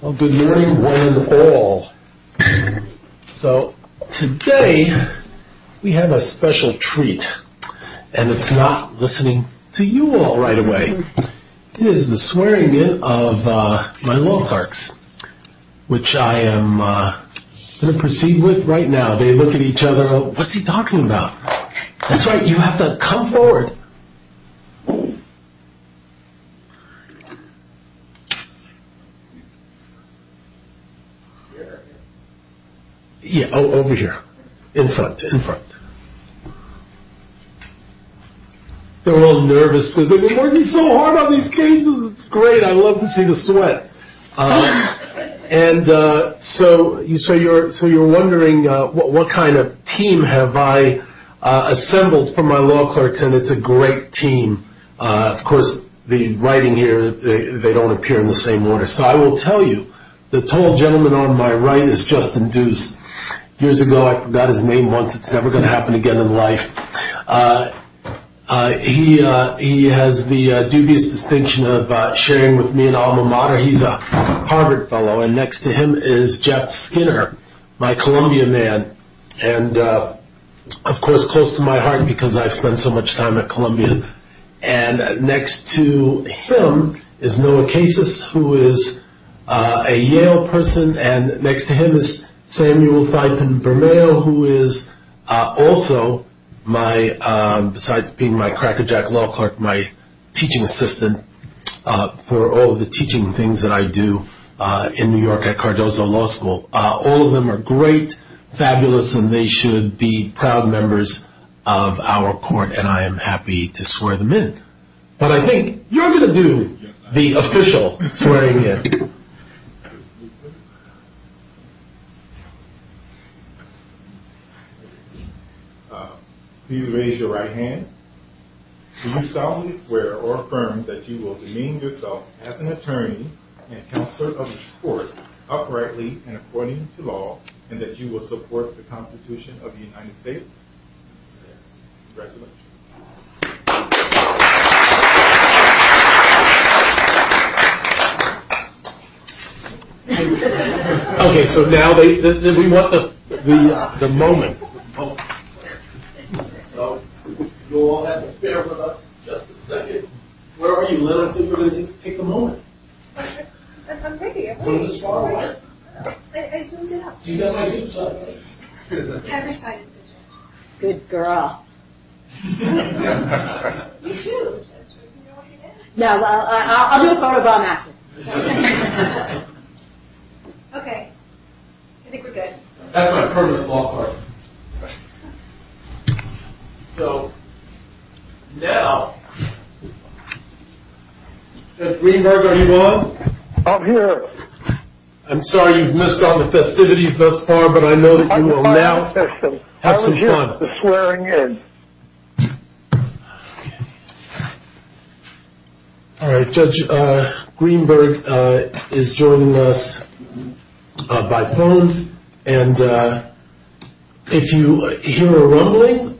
Well, good morning one and all. So, today, we have a special treat. And it's not listening to you all right away. It is the swearing in of my law clerks. Which I am going to proceed with right now. They look at each other, what's he talking about? That's right, you have to come forward. Yeah, over here, in front, in front. They're all nervous because they've been working so hard on these cases. It's great, I love to see the sweat. And so, you're wondering what kind of team have I assembled for my law clerks. And it's a great team. Of course, the writing here, they don't appear in the same order. So, I will tell you, the tall gentleman on my right is Justin Deuce. Years ago, I got his name once. It's never going to happen again in life. He has the dubious distinction of sharing with me an alma mater. He's a Harvard fellow. And next to him is Jeff Skinner, my Columbia man. And, of course, close to my heart because I've spent so much time at Columbia. And next to him is Noah Casis, who is a Yale person. And next to him is Samuel Theipen-Bermeo, who is also, besides being my crackerjack law clerk, my teaching assistant for all of the teaching things that I do in New York at Cardozo Law School. All of them are great, fabulous, and they should be proud members of our court. And I am happy to swear them in. But I think you're going to do the official swearing in. Please raise your right hand. Do you solemnly swear or affirm that you will demean yourself as an attorney and counselor of this court uprightly and according to law, and that you will support the Constitution of the United States? Congratulations. Okay, so now we want the moment. So you'll all have to bear with us just a second. Where are you, Lynn? I think we're going to take the moment. I'm ready. I'm going to smile. I zoomed it up. Do you have my good side? You have your side. Good girl. You too. No, I'll do a photobomb after. Okay. I think we're good. That's my permanent law partner. So, now. Judge Greenberg, are you on? I'm here. I'm sorry you've missed all the festivities thus far, but I know that you will now have some fun. All right. Judge Greenberg is joining us by phone, and if you hear a rumbling,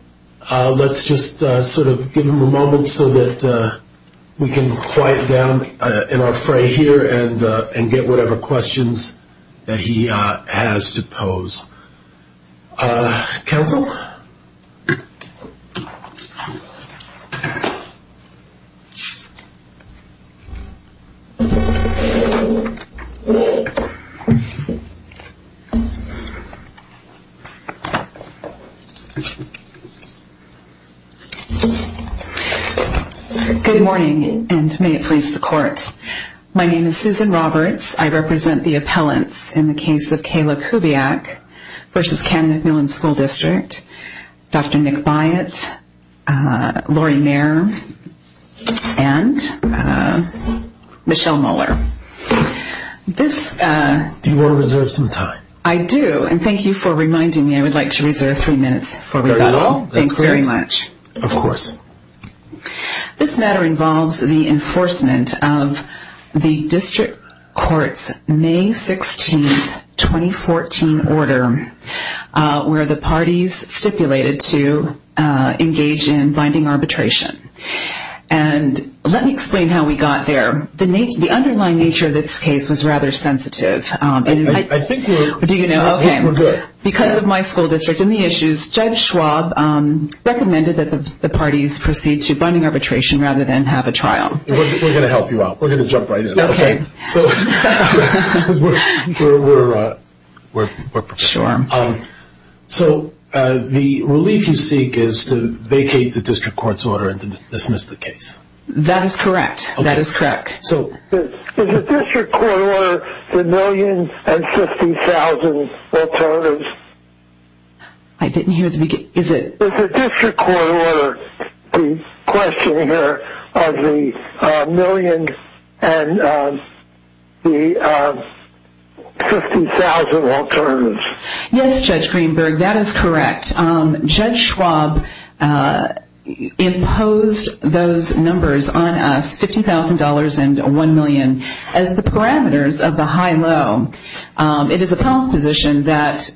let's just sort of give him a moment so that we can quiet down in our fray here and get whatever questions that he has to pose. Counsel? Good morning, and may it please the court. My name is Susan Roberts. I represent the appellants in the case of Kayla Kubiak v. Ken McMillan School District, Dr. Nick Byatt, Laurie Mayer, and Michelle Moeller. Do you want to reserve some time? I do, and thank you for reminding me. I would like to reserve three minutes for rebuttal. Thanks very much. Of course. This matter involves the enforcement of the district court's May 16, 2014, order where the parties stipulated to engage in binding arbitration. And let me explain how we got there. The underlying nature of this case was rather sensitive. I think we're good. Do you know? Okay. We're good. Judge Schwab recommended that the parties proceed to binding arbitration rather than have a trial. We're going to help you out. We're going to jump right in. Okay. So we're prepared. Sure. So the relief you seek is to vacate the district court's order and to dismiss the case. That is correct. That is correct. Is the district court order the million and 50,000 alternatives? I didn't hear the beginning. Is it? Is the district court order the question here of the million and the 50,000 alternatives? Yes, Judge Greenberg, that is correct. Judge Schwab imposed those numbers on us, $50,000 and one million, as the parameters of the high-low. It is a problem position that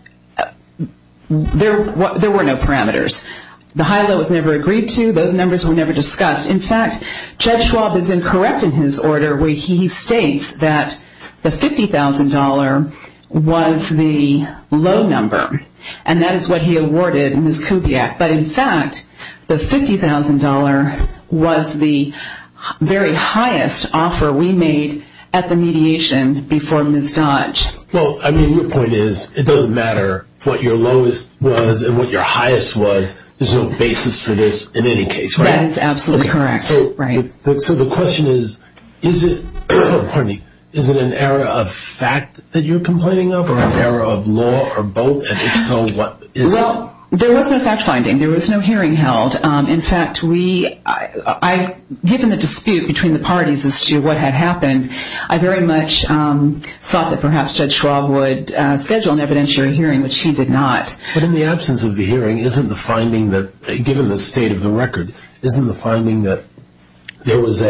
there were no parameters. The high-low was never agreed to. Those numbers were never discussed. In fact, Judge Schwab is incorrect in his order where he states that the $50,000 was the low number. And that is what he awarded Ms. Kubiak. But, in fact, the $50,000 was the very highest offer we made at the mediation before Ms. Dodge. Well, I mean, your point is it doesn't matter what your lowest was and what your highest was. There's no basis for this in any case, right? That is absolutely correct. So the question is, is it an error of fact that you're complaining of or an error of law or both? And if so, what is it? Well, there was no fact-finding. There was no hearing held. In fact, given the dispute between the parties as to what had happened, I very much thought that perhaps Judge Schwab would schedule an evidentiary hearing, which he did not. But in the absence of the hearing, isn't the finding that, given the state of the record, isn't the finding that there was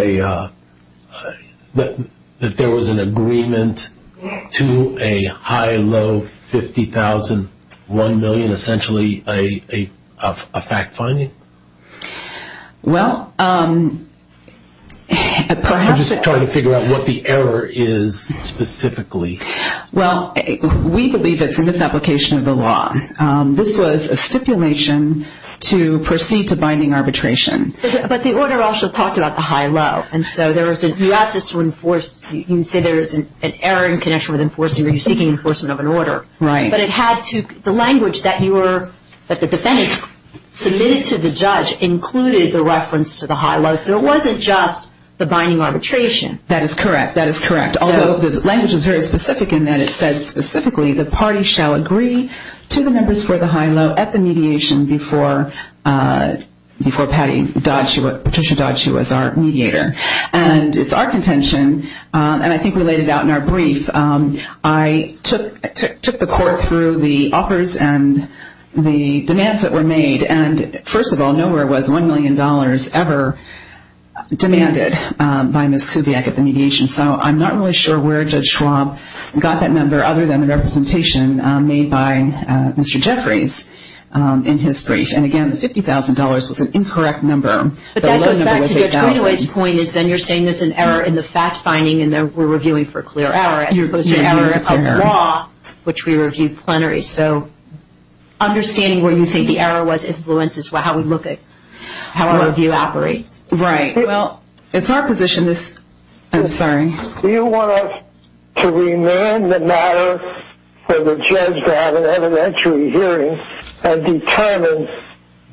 an agreement to a high, low $50,000, $1 million, essentially, a fact-finding? Well, perhaps. I'm just trying to figure out what the error is specifically. Well, we believe it's a misapplication of the law. This was a stipulation to proceed to binding arbitration. But the order also talked about the high, low. And so you have this to enforce. You can say there is an error in connection with enforcing or you're seeking enforcement of an order. Right. But the language that the defendant submitted to the judge included the reference to the high, low. So it wasn't just the binding arbitration. That is correct. That is correct. Although the language is very specific in that it said specifically, the party shall agree to the numbers for the high, low at the mediation before Patricia Dodge, who was our mediator. And it's our contention. And I think we laid it out in our brief. I took the court through the offers and the demands that were made. And, first of all, nowhere was $1 million ever demanded by Ms. Kubiak at the mediation. So I'm not really sure where Judge Schwab got that number other than the representation made by Mr. Jeffries in his brief. And, again, $50,000 was an incorrect number. But that goes back to Judge Radaway's point is then you're saying there's an error in the fact-finding and we're reviewing for a clear error as opposed to an error of the law, which we reviewed plenary. So understanding where you think the error was influences how we look at how our review operates. Right. Well, it's our position. I'm sorry. Do you want us to remain the matter for the judge to have an evidentiary hearing and determine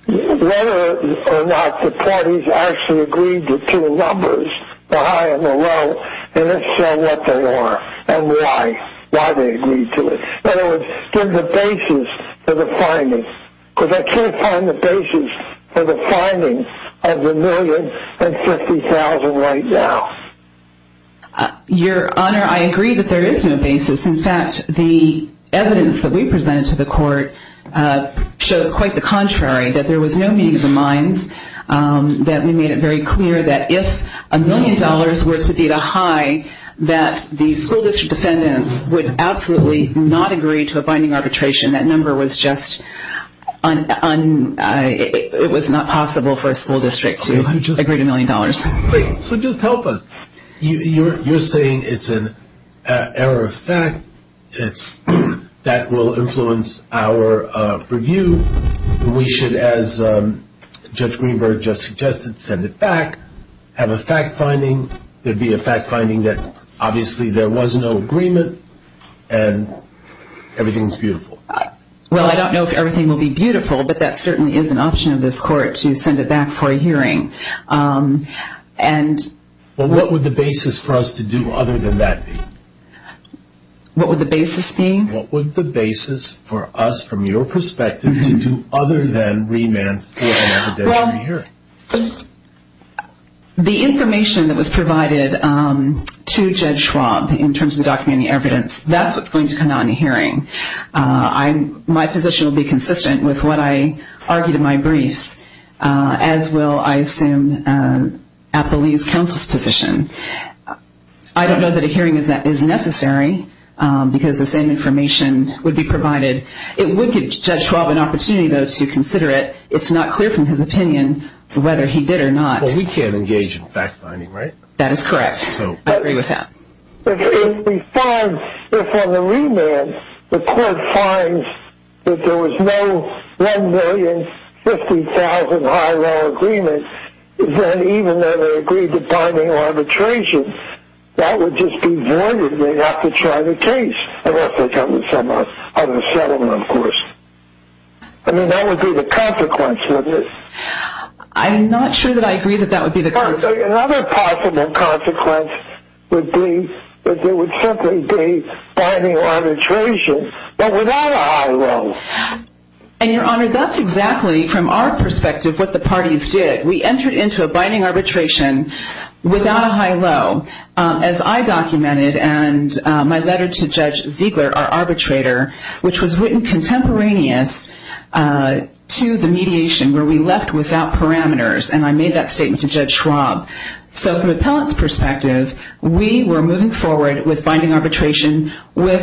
whether or not the parties actually agreed to two numbers, the high and the low, and then say what they are and why, why they agreed to it. In other words, give the basis for the finding. Because I can't find the basis for the finding of the $1,050,000 right now. Your Honor, I agree that there is no basis. In fact, the evidence that we presented to the court shows quite the contrary, that there was no meeting of the minds, that we made it very clear that if $1 million were to be the high, that the school district defendants would absolutely not agree to a binding arbitration. That number was just, it was not possible for a school district to agree to $1 million. So just help us. You're saying it's an error of fact that will influence our review. We should, as Judge Greenberg just suggested, send it back, have a fact finding. There would be a fact finding that obviously there was no agreement and everything is beautiful. Well, I don't know if everything will be beautiful, but that certainly is an option of this court to send it back for a hearing. What would the basis for us to do other than that be? What would the basis be? What would the basis for us, from your perspective, to do other than remand for an evidentiary hearing? The information that was provided to Judge Schwab in terms of the documented evidence, that's what's going to come out in a hearing. My position will be consistent with what I argued in my briefs, as will, I assume, Apolline's counsel's position. I don't know that a hearing is necessary because the same information would be provided. It would give Judge Schwab an opportunity, though, to consider it. But it's not clear from his opinion whether he did or not. Well, we can't engage in fact finding, right? That is correct. I agree with that. If on the remand the court finds that there was no $1,050,000 high-law agreement, then even though they agreed to binding arbitration, that would just be voided. They'd have to try the case unless they come to some other settlement, of course. I mean, that would be the consequence of this. I'm not sure that I agree that that would be the consequence. Another possible consequence would be that there would simply be binding arbitration, but without a high-low. And, Your Honor, that's exactly, from our perspective, what the parties did. We entered into a binding arbitration without a high-low. As I documented in my letter to Judge Ziegler, our arbitrator, which was written contemporaneous to the mediation where we left without parameters, and I made that statement to Judge Schwab. So from an appellant's perspective, we were moving forward with binding arbitration with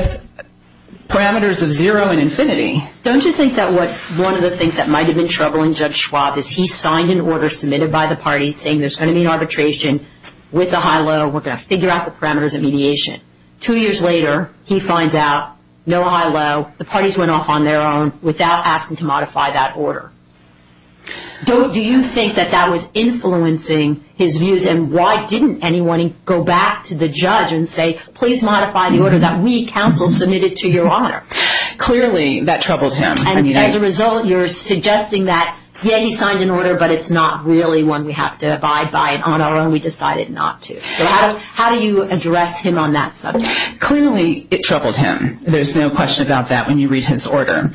parameters of zero and infinity. Don't you think that one of the things that might have been troubling Judge Schwab is he signed an order submitted by the parties saying there's going to be an arbitration with a high-low. We're going to figure out the parameters of mediation. Two years later, he finds out no high-low. The parties went off on their own without asking to modify that order. Don't you think that that was influencing his views? And why didn't anyone go back to the judge and say, please modify the order that we, counsel, submitted to Your Honor? Clearly, that troubled him. And as a result, you're suggesting that, yeah, he signed an order, but it's not really one we have to abide by on our own. We decided not to. So how do you address him on that subject? Clearly, it troubled him. There's no question about that when you read his order.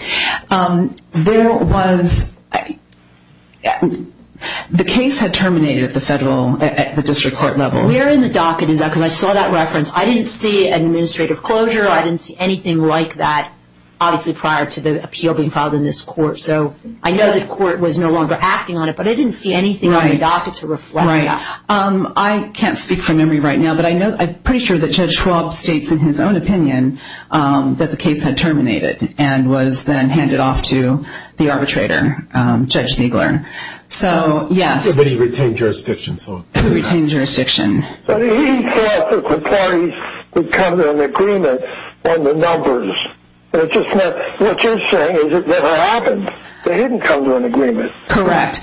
There was – the case had terminated at the federal – at the district court level. Where in the docket is that? Because I saw that reference. I didn't see an administrative closure. I didn't see anything like that, obviously, prior to the appeal being filed in this court. So I know the court was no longer acting on it, but I didn't see anything on the docket to reflect that. Right. I can't speak from memory right now, but I'm pretty sure that Judge Schwab states in his own opinion that the case had terminated and was then handed off to the arbitrator, Judge Nagler. So, yes. But he retained jurisdiction, so. He retained jurisdiction. But he thought that the parties would come to an agreement on the numbers. It just meant – what you're saying is it never happened. They didn't come to an agreement. Correct.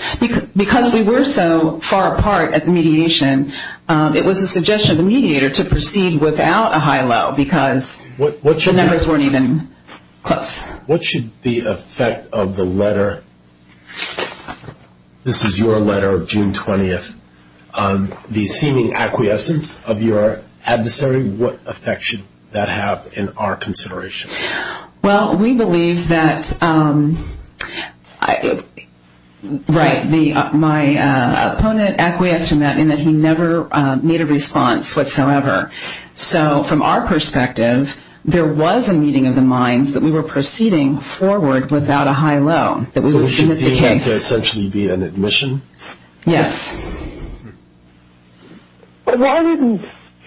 Because we were so far apart at the mediation, it was a suggestion of the mediator to proceed without a high-low because the numbers weren't even close. What should the effect of the letter – this is your letter of June 20th. The seeming acquiescence of your adversary, what effect should that have in our consideration? Well, we believe that – right, my opponent acquiesced in that, in that he never made a response whatsoever. So from our perspective, there was a meeting of the minds that we were proceeding forward without a high-low. So we should deem that to essentially be an admission? Yes. But why didn't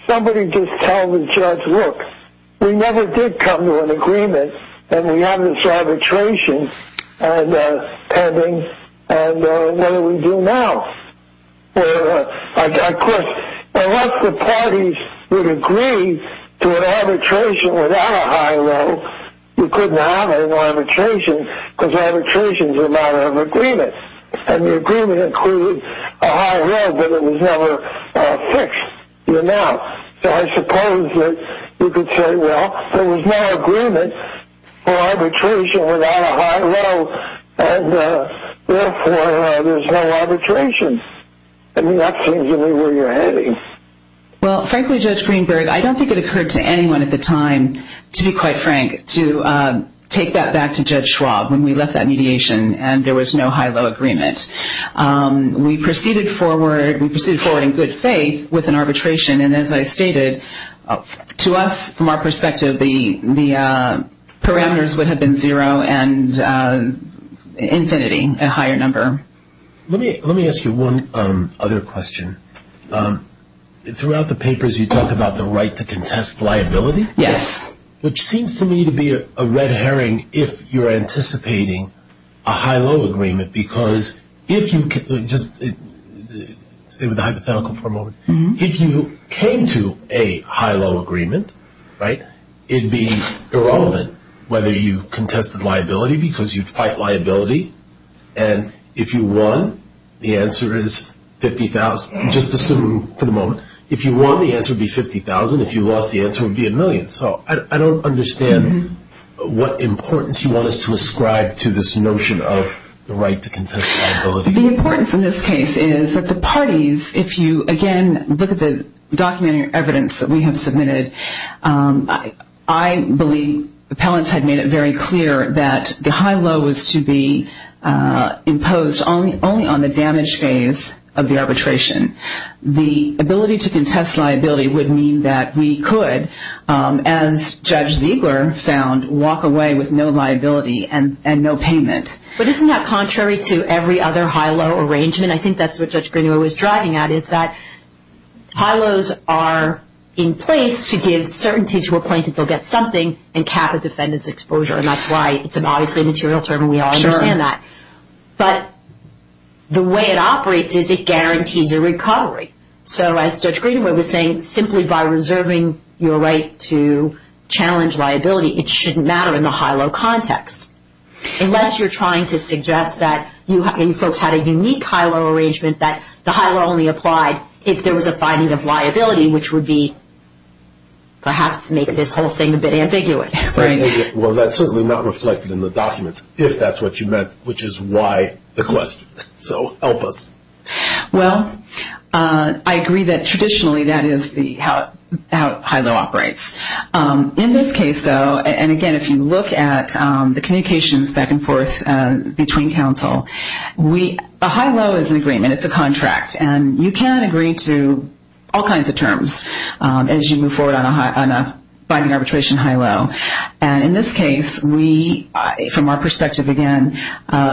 somebody just tell the judge, look, we never did come to an agreement and we have this arbitration pending, and what do we do now? Of course, unless the parties would agree to an arbitration without a high-low, you couldn't have an arbitration because arbitration is a matter of agreement. And the agreement included a high-low, but it was never fixed. So I suppose that you could say, well, there was no agreement for arbitration without a high-low, and therefore there's no arbitration. I mean, that seems to me where you're heading. Well, frankly, Judge Greenberg, I don't think it occurred to anyone at the time, to be quite frank, to take that back to Judge Schwab when we left that mediation and there was no high-low agreement. We proceeded forward in good faith with an arbitration, and as I stated, to us, from our perspective, the parameters would have been zero and infinity, a higher number. Let me ask you one other question. Throughout the papers, you talk about the right to contest liability? Yes. Which seems to me to be a red herring if you're anticipating a high-low agreement, because if you came to a high-low agreement, right, it would be irrelevant whether you contested liability because you'd fight liability, and if you won, the answer is $50,000, just assuming for the moment. If you won, the answer would be $50,000. If you lost, the answer would be a million. So I don't understand what importance you want us to ascribe to this notion of the right to contest liability. The importance in this case is that the parties, if you, again, look at the documentary evidence that we have submitted, I believe appellants had made it very clear that the high-low was to be imposed only on the damage phase of the arbitration. The ability to contest liability would mean that we could, as Judge Ziegler found, walk away with no liability and no payment. But isn't that contrary to every other high-low arrangement? I think that's what Judge Grenier was driving at, is that high-lows are in place to give certainty to a plaintiff they'll get something and cap a defendant's exposure, and that's why it's an obviously immaterial term, and we all understand that. Sure. But the way it operates is it guarantees a recovery. So as Judge Grenier was saying, simply by reserving your right to challenge liability, it shouldn't matter in the high-low context, unless you're trying to suggest that you folks had a unique high-low arrangement that the high-low only applied if there was a finding of liability, which would be perhaps to make this whole thing a bit ambiguous. Well, that's certainly not reflected in the documents, if that's what you meant, which is why the question. So help us. Well, I agree that traditionally that is how high-low operates. In this case, though, and again, if you look at the communications back and forth between counsel, a high-low is an agreement, it's a contract, and you can agree to all kinds of terms as you move forward on a finding arbitration high-low. And in this case, we, from our perspective again,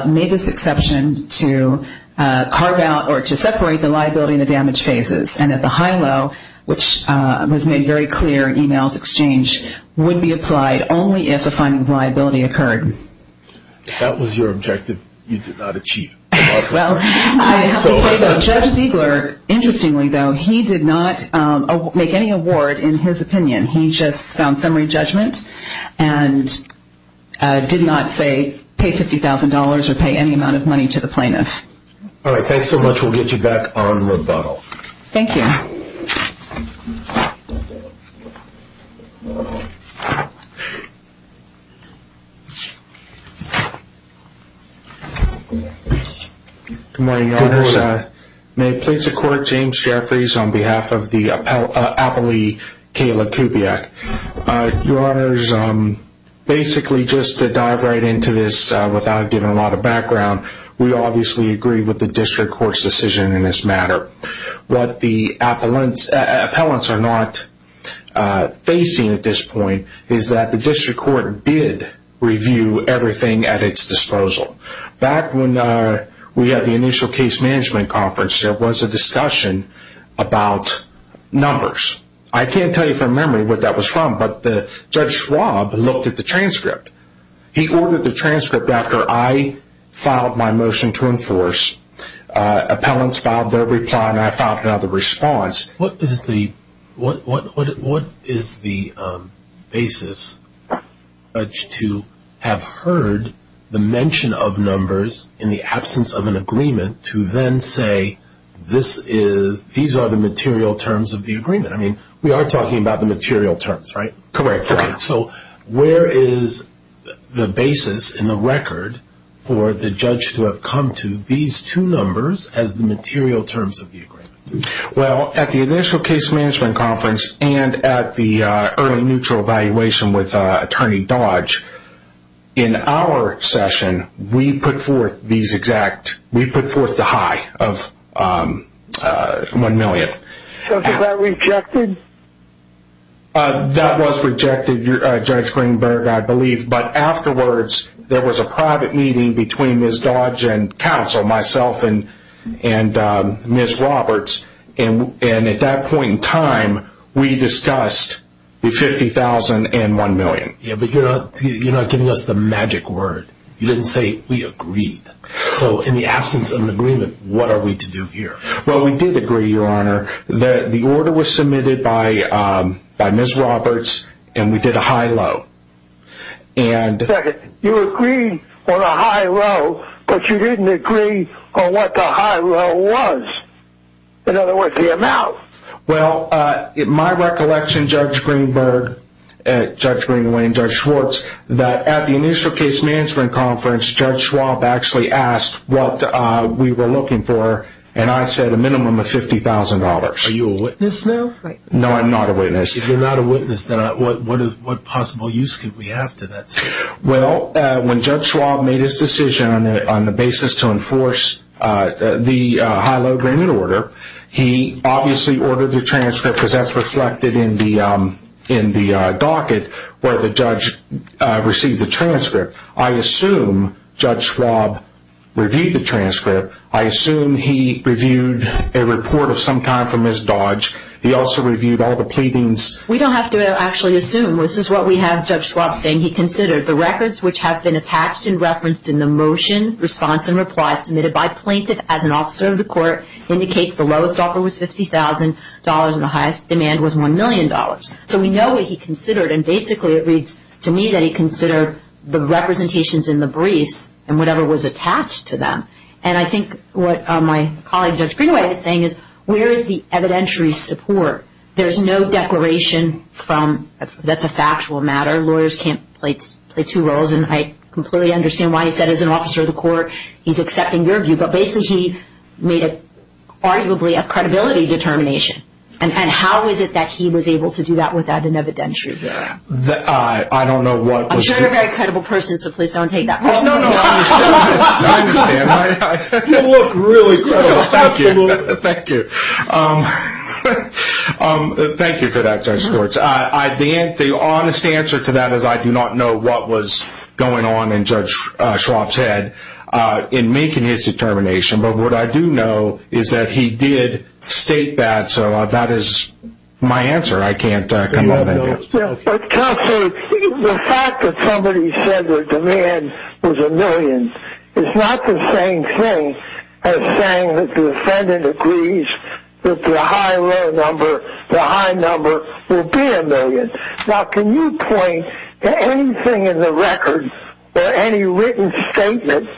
made this exception to carve out or to separate the liability and the damage phases, and that the high-low, which was made very clear in e-mails exchange, would be applied only if a finding of liability occurred. That was your objective you did not achieve. Well, Judge Siegler, interestingly, though, he did not make any award in his opinion. He just found summary judgment and did not, say, pay $50,000 or pay any amount of money to the plaintiff. All right. Thanks so much. We'll get you back on the bottle. Thank you. Good morning, Your Honors. May it please the Court, James Jeffries on behalf of the appellee Kayla Kubiak. Your Honors, basically, just to dive right into this without giving a lot of background, we obviously agree with the district court's decision in this matter. What the appellants are not facing at this point is that the district court did review everything at its disposal. Back when we had the initial case management conference, there was a discussion about numbers. I can't tell you from memory what that was from, but Judge Schwab looked at the transcript. He ordered the transcript after I filed my motion to enforce. Appellants filed their reply, and I filed another response. What is the basis to have heard the mention of numbers in the absence of an agreement to then say, these are the material terms of the agreement? I mean, we are talking about the material terms, right? Correct. So where is the basis in the record for the judge to have come to these two numbers as the material terms of the agreement? Well, at the initial case management conference and at the early neutral evaluation with Attorney Dodge, in our session, we put forth the high of one million. So was that rejected? That was rejected, Judge Greenberg, I believe. But afterwards, there was a private meeting between Ms. Dodge and counsel, myself and Ms. Roberts, and at that point in time, we discussed the 50,000 and one million. Yeah, but you're not giving us the magic word. You didn't say, we agreed. So in the absence of an agreement, what are we to do here? Well, we did agree, Your Honor, that the order was submitted by Ms. Roberts and we did a high-low. Second, you agreed on a high-low, but you didn't agree on what the high-low was. In other words, the amount. Well, in my recollection, Judge Greenberg, Judge Green, Wayne, Judge Schwartz, that at the initial case management conference, Judge Schwab actually asked what we were looking for, and I said a minimum of $50,000. Are you a witness now? No, I'm not a witness. If you're not a witness, then what possible use could we have to that? Well, when Judge Schwab made his decision on the basis to enforce the high-low agreement order, he obviously ordered the transcript because that's reflected in the docket where the judge received the transcript. I assume Judge Schwab reviewed the transcript. I assume he reviewed a report of some kind from Ms. Dodge. He also reviewed all the pleadings. We don't have to actually assume. This is what we have Judge Schwab saying he considered. The records which have been attached and referenced in the motion, response, and replies submitted by plaintiff as an officer of the court indicates the lowest offer was $50,000 and the highest demand was $1 million. So we know what he considered, and basically it reads to me that he considered the representations in the briefs and whatever was attached to them. And I think what my colleague Judge Greenway is saying is where is the evidentiary support? There's no declaration from – that's a factual matter. Lawyers can't play two roles, and I completely understand why he said as an officer of the court, he's accepting your view, but basically he made arguably a credibility determination. And how is it that he was able to do that without an evidentiary? I don't know what was – I'm sure you're a very credible person, so please don't take that personally. No, no, I understand. You look really credible. Thank you. Absolutely. Thank you. Thank you for that, Judge Schwartz. The honest answer to that is I do not know what was going on in Judge Schwab's head in making his determination, but what I do know is that he did state that, so that is my answer. I can't comment on that. Counsel, the fact that somebody said their demand was a million is not the same thing as saying that the defendant agrees that the high loan number, the high number will be a million. Now, can you point to anything in the record or any written statement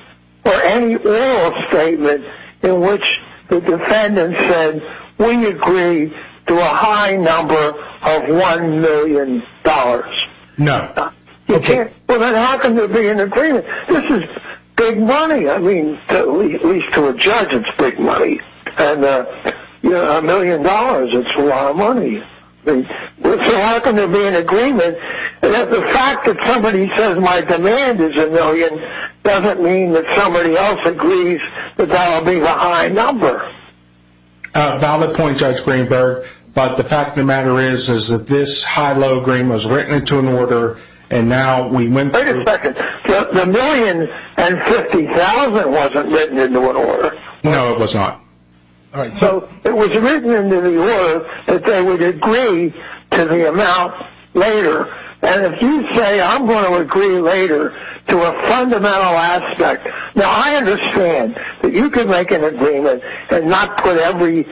or any oral statement in which the defendant said, we agree to a high number of $1 million? No. Well, then how can there be an agreement? This is big money. I mean, at least to a judge it's big money. And a million dollars, it's a lot of money. So how can there be an agreement that the fact that somebody says my demand is a million doesn't mean that somebody else agrees that that will be the high number? Valid point, Judge Greenberg, but the fact of the matter is that this high-low agreement was written into an order and now we went through. Wait a second. The million and $50,000 wasn't written into an order. No, it was not. All right. So it was written into the order that they would agree to the amount later, and if you say I'm going to agree later to a fundamental aspect. Now, I understand that you can make an agreement and not put every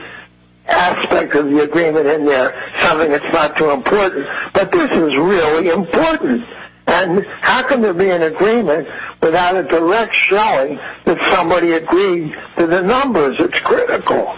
aspect of the agreement in there, something that's not too important, but this is really important. And how can there be an agreement without a direct showing that somebody agreed to the numbers? It's critical.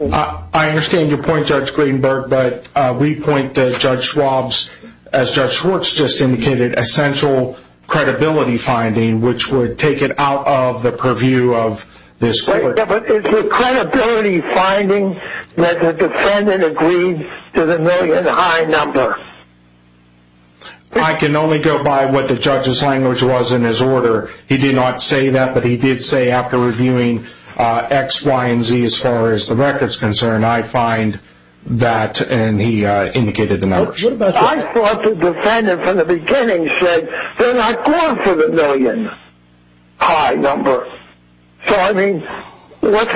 I understand your point, Judge Greenberg, but we point to Judge Schwab's, as Judge Schwartz just indicated, essential credibility finding, which would take it out of the purview of this court. But is the credibility finding that the defendant agreed to the million high number? I can only go by what the judge's language was in his order. He did not say that, but he did say after reviewing X, Y, and Z as far as the record's concerned, I find that, and he indicated the numbers. I thought the defendant from the beginning said they're not going for the million high number. So, I mean, what's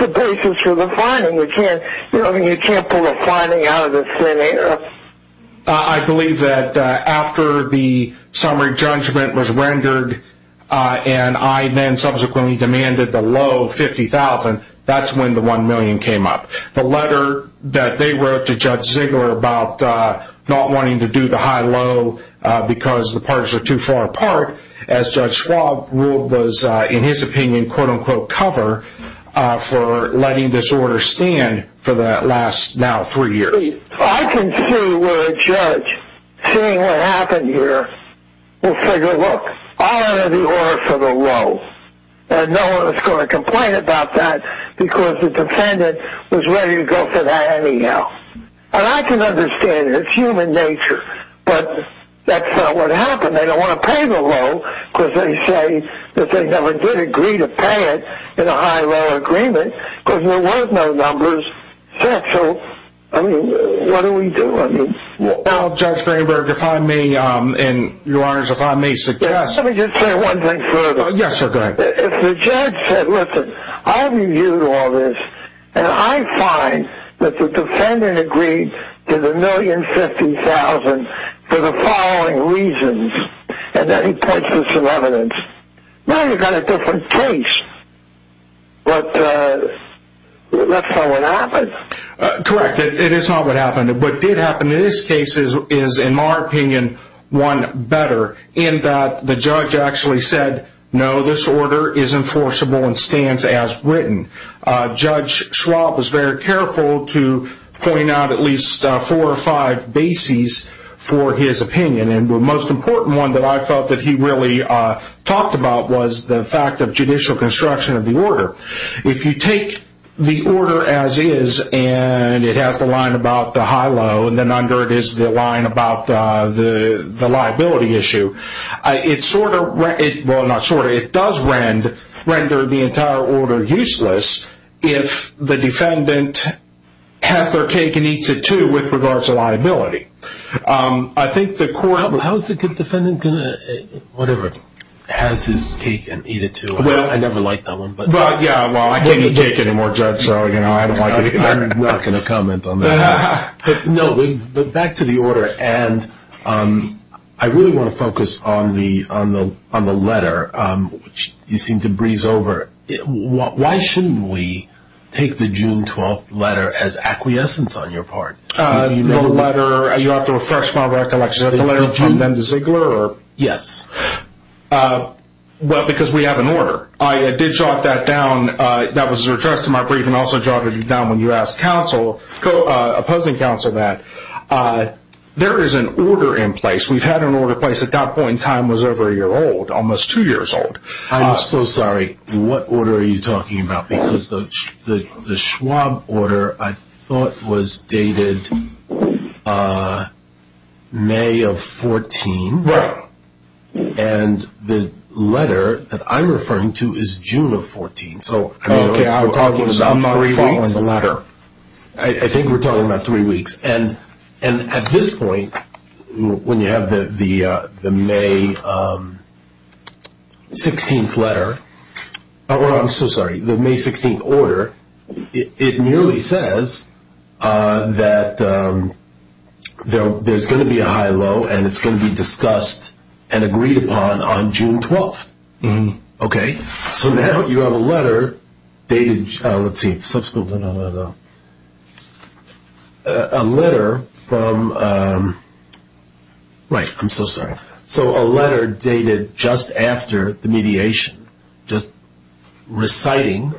the basis for the finding? You can't pull a finding out of thin air. I believe that after the summary judgment was rendered and I then subsequently demanded the low $50,000, that's when the $1 million came up. The letter that they wrote to Judge Ziegler about not wanting to do the high-low because the parties are too far apart, as Judge Schwab ruled was, in his opinion, for letting this order stand for the last, now, three years. I can see where a judge, seeing what happened here, will figure, look, I'll enter the order for the low. And no one is going to complain about that because the defendant was ready to go for that anyhow. And I can understand it. It's human nature. But that's not what happened. They don't want to pay the low because they say that they never did agree to pay it in a high-low agreement because there were no numbers set. So, I mean, what do we do? Well, Judge Bloomberg, if I may, and, Your Honors, if I may suggest. Let me just say one thing further. Yes, sir, go ahead. If the judge said, listen, I've reviewed all this, and I find that the defendant agreed to the $1,050,000 for the following reasons, and then he purchased some evidence, now you've got a different case. But that's not what happened. Correct. It is not what happened. What did happen in this case is, in my opinion, one better, in that the judge actually said, no, this order is enforceable and stands as written. Judge Schwab was very careful to point out at least four or five bases for his opinion. And the most important one that I felt that he really talked about was the fact of judicial construction of the order. If you take the order as is, and it has the line about the high-low, and then under it is the line about the liability issue, it does render the entire order useless if the defendant has their cake and eats it, too, with regards to liability. How is the defendant going to, whatever, has his cake and eat it, too? I never liked that one. Well, I can't eat cake anymore, Judge, so I'm not going to comment on that. No, but back to the order. I really want to focus on the letter, which you seem to breeze over. Why shouldn't we take the June 12th letter as acquiescence on your part? The letter, you'll have to refresh my recollection. Is that the letter from Dendis Ziegler? Yes. Well, because we have an order. I did jot that down. That was addressed in my briefing. I also jotted it down when you asked opposing counsel that. There is an order in place. We've had an order in place at that point. Time was over a year old, almost two years old. I'm so sorry. What order are you talking about? Because the Schwab order, I thought, was dated May of 14. Right. The letter that I'm referring to is June of 14. Are we talking about three weeks? I'm not following the letter. I think we're talking about three weeks. At this point, when you have the May 16th order, it merely says that there's going to be a high-low, and it's going to be discussed and agreed upon on June 12th. Okay? So now you have a letter dated, let's see, a letter from, right, I'm so sorry. So a letter dated just after the mediation, just reciting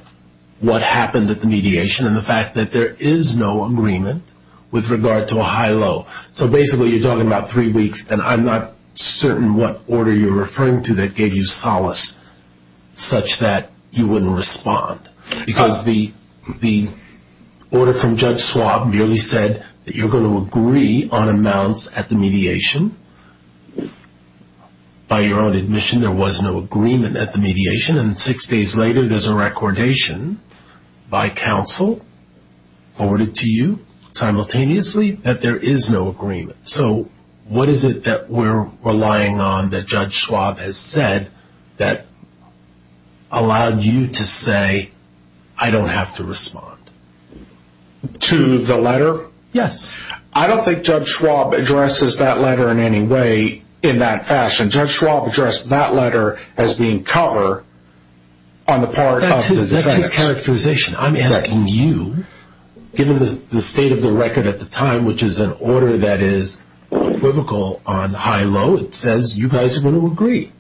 what happened at the mediation and the fact that there is no agreement with regard to a high-low. So basically you're talking about three weeks, and I'm not certain what order you're referring to that gave you solace such that you wouldn't respond. Because the order from Judge Schwab merely said that you're going to agree on amounts at the mediation. By your own admission, there was no agreement at the mediation, and six days later there's a recordation by counsel forwarded to you simultaneously that there is no agreement. So what is it that we're relying on that Judge Schwab has said that allowed you to say, I don't have to respond? To the letter? Yes. I don't think Judge Schwab addresses that letter in any way in that fashion. Judge Schwab addressed that letter as being cover on the part of the judge. That's his characterization. I'm asking you, given the state of the record at the time, which is an order that is equivocal on high-low, it says you guys are going to agree.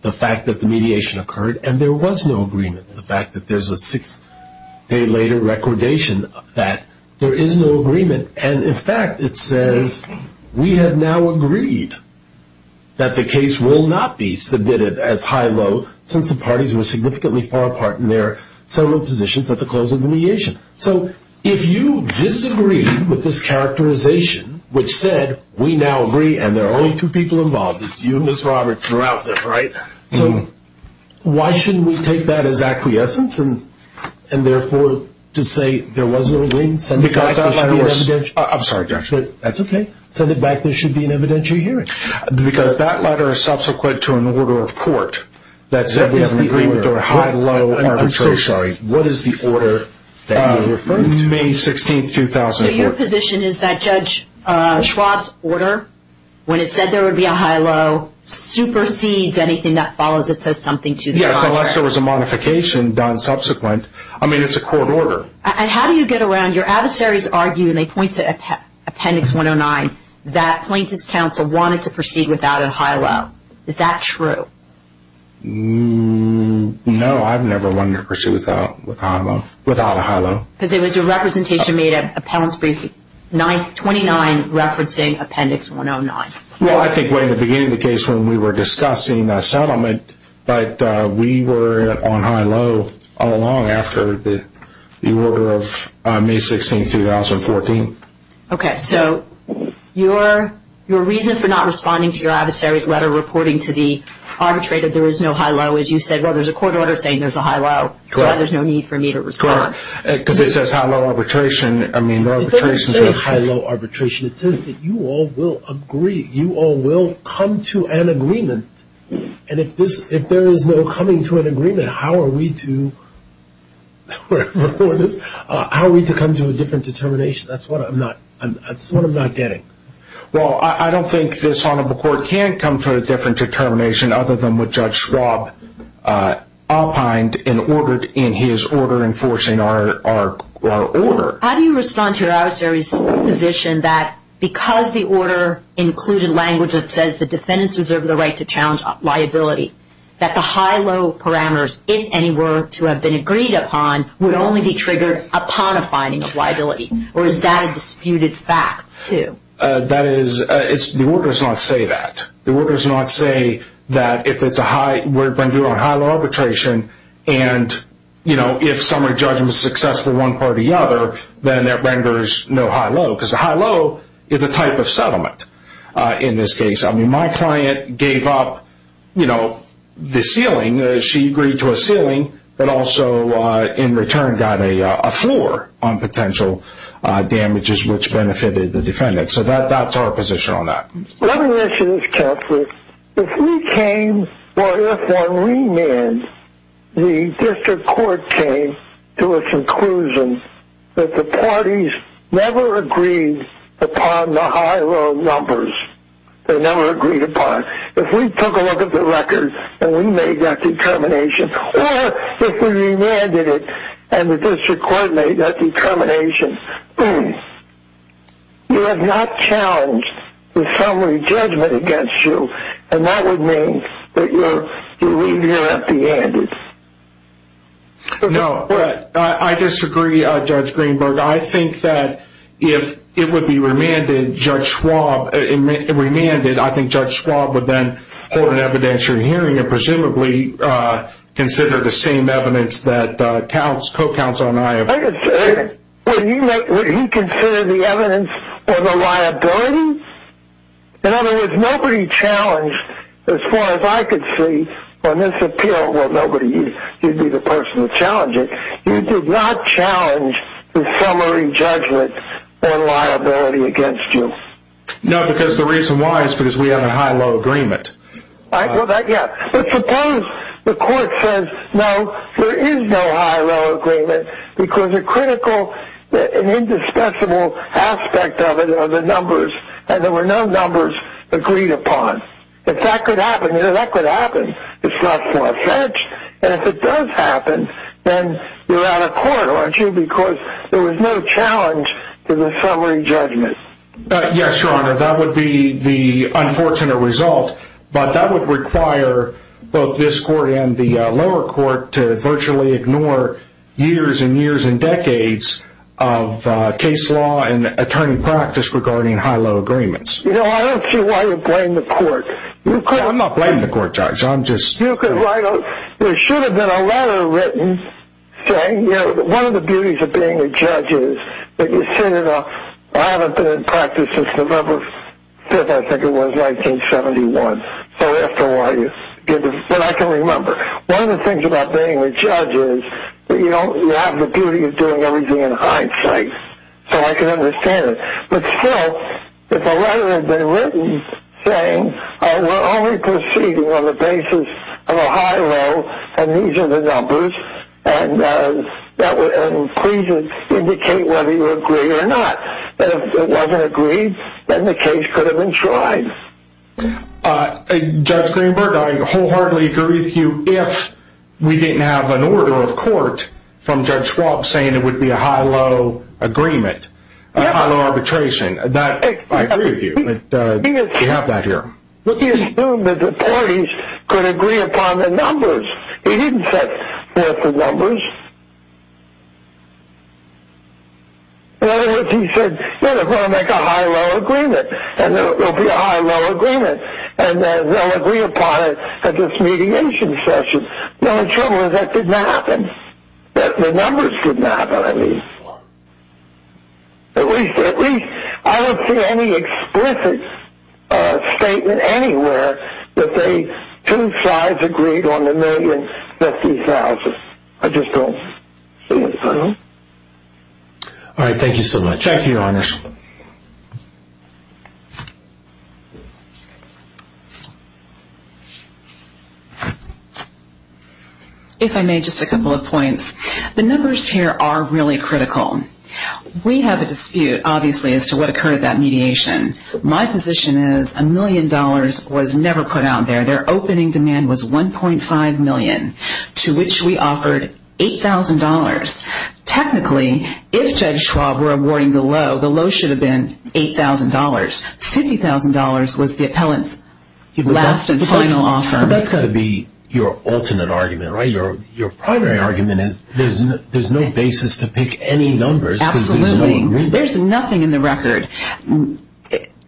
The fact that the mediation occurred and there was no agreement, the fact that there's a six-day later recordation that there is no agreement, and in fact it says we have now agreed that the case will not be submitted as high-low since the parties were significantly far apart in their settlement positions at the close of the mediation. So if you disagree with this characterization, which said we now agree and there are only two people involved, it's you and Ms. Roberts throughout this, right? So why shouldn't we take that as acquiescence and, therefore, to say there was no agreement? I'm sorry, Judge. That's okay. Send it back. There should be an evidentiary hearing. Because that letter is subsequent to an order of court that said there was an agreement or a high-low arbitration. I'm so sorry. What is the order that you're referring to? May 16, 2004. So your position is that Judge Schwab's order, when it said there would be a high-low, supersedes anything that follows that says something to the contrary? Yes, unless there was a modification done subsequent. I mean, it's a court order. And how do you get around? Your adversaries argue, and they point to Appendix 109, that plaintiff's counsel wanted to proceed without a high-low. Is that true? No, I've never wanted to proceed without a high-low. Because it was your representation made at Appellant's Briefing 29 referencing Appendix 109. Well, I think way in the beginning of the case when we were discussing settlement, but we were on high-low all along after the order of May 16, 2014. Okay. So your reason for not responding to your adversary's letter reporting to the arbitrator there was no high-low is you said, well, there's a court order saying there's a high-low, so there's no need for me to respond. Correct. Because it says high-low arbitration. I mean, there are arbitrations. It doesn't say high-low arbitration. It says that you all will agree, you all will come to an agreement. And if there is no coming to an agreement, how are we to come to a different determination? That's what I'm not getting. Well, I don't think this Honorable Court can come to a different determination other than with Judge Schwab opined and ordered in his order enforcing our order. How do you respond to your adversary's position that because the order included language that says the defendants reserve the right to challenge liability, that the high-low parameters, if any, were to have been agreed upon would only be triggered upon a finding of liability? Or is that a disputed fact, too? That is, the order does not say that. The order does not say that if it's a high-low arbitration and, you know, if someone judges successfully one part or the other, then that renders no high-low. Because a high-low is a type of settlement in this case. I mean, my client gave up, you know, the ceiling. She agreed to a ceiling but also, in return, got a floor on potential damages which benefited the defendant. So that's our position on that. Let me ask you this carefully. If we came, or if on remand, the district court came to a conclusion that the parties never agreed upon the high-low numbers. They never agreed upon. If we took a look at the record and we made that determination, or if we remanded it and the district court made that determination, you have not challenged the summary judgment against you, and that would mean that you leave here empty-handed. No. I disagree, Judge Greenberg. I think that if it would be remanded, I think Judge Schwab would then hold an evidentiary hearing and presumably consider the same evidence that co-counsel and I have. Would he consider the evidence of a liability? In other words, nobody challenged, as far as I could see, on this appeal, well, nobody, you'd be the person to challenge it. You did not challenge the summary judgment on liability against you. No, because the reason why is because we have a high-low agreement. Well, yeah, but suppose the court says, no, there is no high-low agreement because a critical and indisputable aspect of it are the numbers, and there were no numbers agreed upon. If that could happen, you know, that could happen. It's not far-fetched. And if it does happen, then you're out of court, aren't you, because there was no challenge to the summary judgment. Yes, Your Honor, that would be the unfortunate result, but that would require both this court and the lower court to virtually ignore years and years and decades of case law and attorney practice regarding high-low agreements. You know, I don't see why you blame the court. I'm not blaming the court, Judge. You could write a – there should have been a letter written saying, you know, one of the beauties of being a judge is that you sit in a – I haven't been in practice since November 5th, I think it was, 1971, so after a while you get to – but I can remember. One of the things about being a judge is that you don't – you have the beauty of doing everything in hindsight, so I can understand it. But still, if a letter had been written saying, we're only proceeding on the basis of a high-low, and these are the numbers, and please indicate whether you agree or not. If it wasn't agreed, then the case could have been tried. Judge Greenberg, I wholeheartedly agree with you if we didn't have an order of court from Judge Schwab saying it would be a high-low agreement, a high-low arbitration. I agree with you, but we have that here. But he assumed that the parties could agree upon the numbers. He didn't say, here's the numbers. In other words, he said, we're going to make a high-low agreement, and there will be a high-low agreement, and they'll agree upon it at this meeting in succession. Now, the trouble is that didn't happen. The numbers didn't happen, I mean. At least I don't see any explicit statement anywhere that the two sides agreed on the $1,050,000. I just don't see it. All right, thank you so much. Thank you, Your Honor. If I may, just a couple of points. The numbers here are really critical. We have a dispute, obviously, as to what occurred at that mediation. My position is a million dollars was never put out there. Their opening demand was $1.5 million, to which we offered $8,000. Technically, if Judge Schwab were awarding the low, the low should have been $8,000. $50,000 was the appellant's last and final offer. But that's got to be your alternate argument, right? Your primary argument is there's no basis to pick any numbers. Absolutely. There's nothing in the record.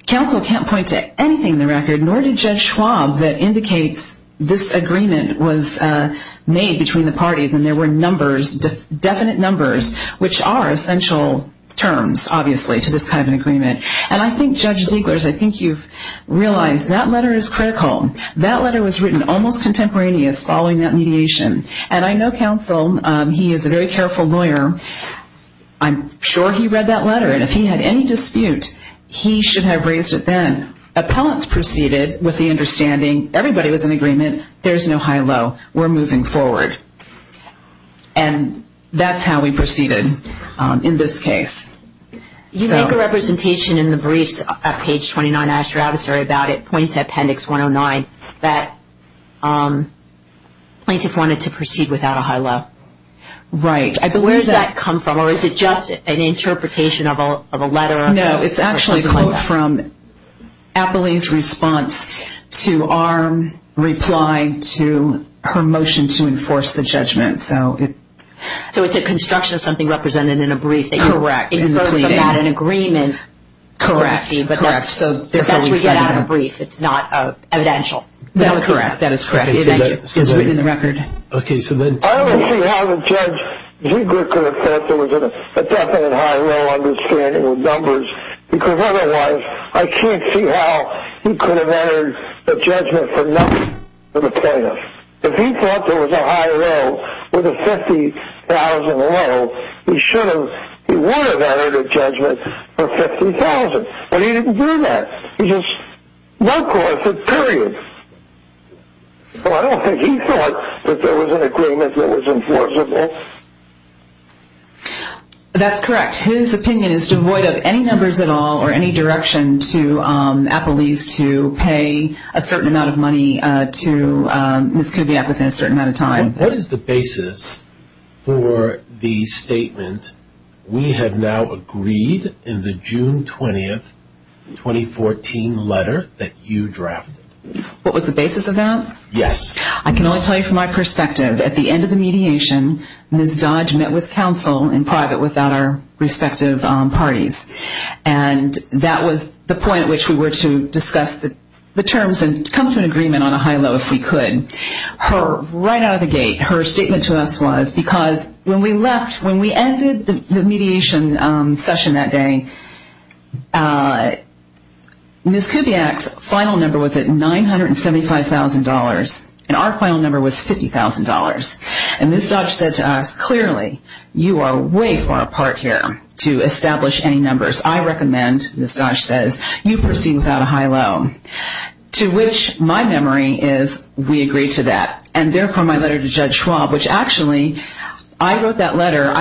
Counsel can't point to anything in the record, nor did Judge Schwab that indicates this agreement was made between the parties, and there were numbers, definite numbers, which are essential terms, obviously, to this kind of an agreement. And I think, Judge Ziegler, I think you've realized that letter is critical. That letter was written almost contemporaneous following that mediation. And I know counsel, he is a very careful lawyer. I'm sure he read that letter, and if he had any dispute, he should have raised it then. Appellants proceeded with the understanding, everybody was in agreement, there's no high-low, we're moving forward. And that's how we proceeded in this case. You make a representation in the briefs at page 29, and ask your adversary about it, point to Appendix 109, that plaintiff wanted to proceed without a high-low. Right. Where does that come from, or is it just an interpretation of a letter? No, it's actually a quote from Appellee's response to our reply to her motion to enforce the judgment. So it's a construction of something represented in a brief that you wrote about an agreement. Correct. As we get out of a brief, it's not evidential. That is correct. It is written in the record. I don't see how the judge could have said there was a definite high-low understanding of numbers, because otherwise I can't see how he could have entered a judgment for nothing for the plaintiff. If he thought there was a high-low with a $50,000 low, he would have entered a judgment for $50,000. But he didn't do that. He just went across it, period. I don't think he thought that there was an agreement that was enforceable. That's correct. His opinion is devoid of any numbers at all, or any direction to Appellee's to pay a certain amount of money to Ms. Kugiak within a certain amount of time. What is the basis for the statement, we have now agreed in the June 20, 2014 letter that you drafted? What was the basis of that? Yes. I can only tell you from my perspective. At the end of the mediation, Ms. Dodge met with counsel in private without our respective parties. And that was the point at which we were to discuss the terms and come to an agreement on a high-low if we could. Her, right out of the gate, her statement to us was, because when we left, when we ended the mediation session that day, Ms. Kugiak's final number was at $975,000, and our final number was $50,000. And Ms. Dodge said to us, clearly, you are way far apart here to establish any numbers. I recommend, Ms. Dodge says, you proceed without a high-low. To which my memory is, we agreed to that. And therefore, my letter to Judge Schwab, which actually, I wrote that letter.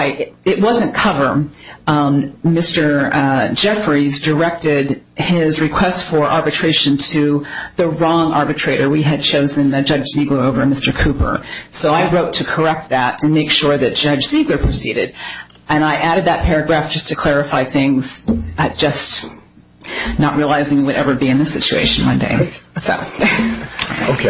It wasn't cover. Mr. Jeffries directed his request for arbitration to the wrong arbitrator. We had chosen Judge Ziegler over Mr. Cooper. So I wrote to correct that and make sure that Judge Ziegler proceeded. And I added that paragraph just to clarify things, just not realizing we would ever be in this situation one day. So. Okay. Thank you. Thank you so much.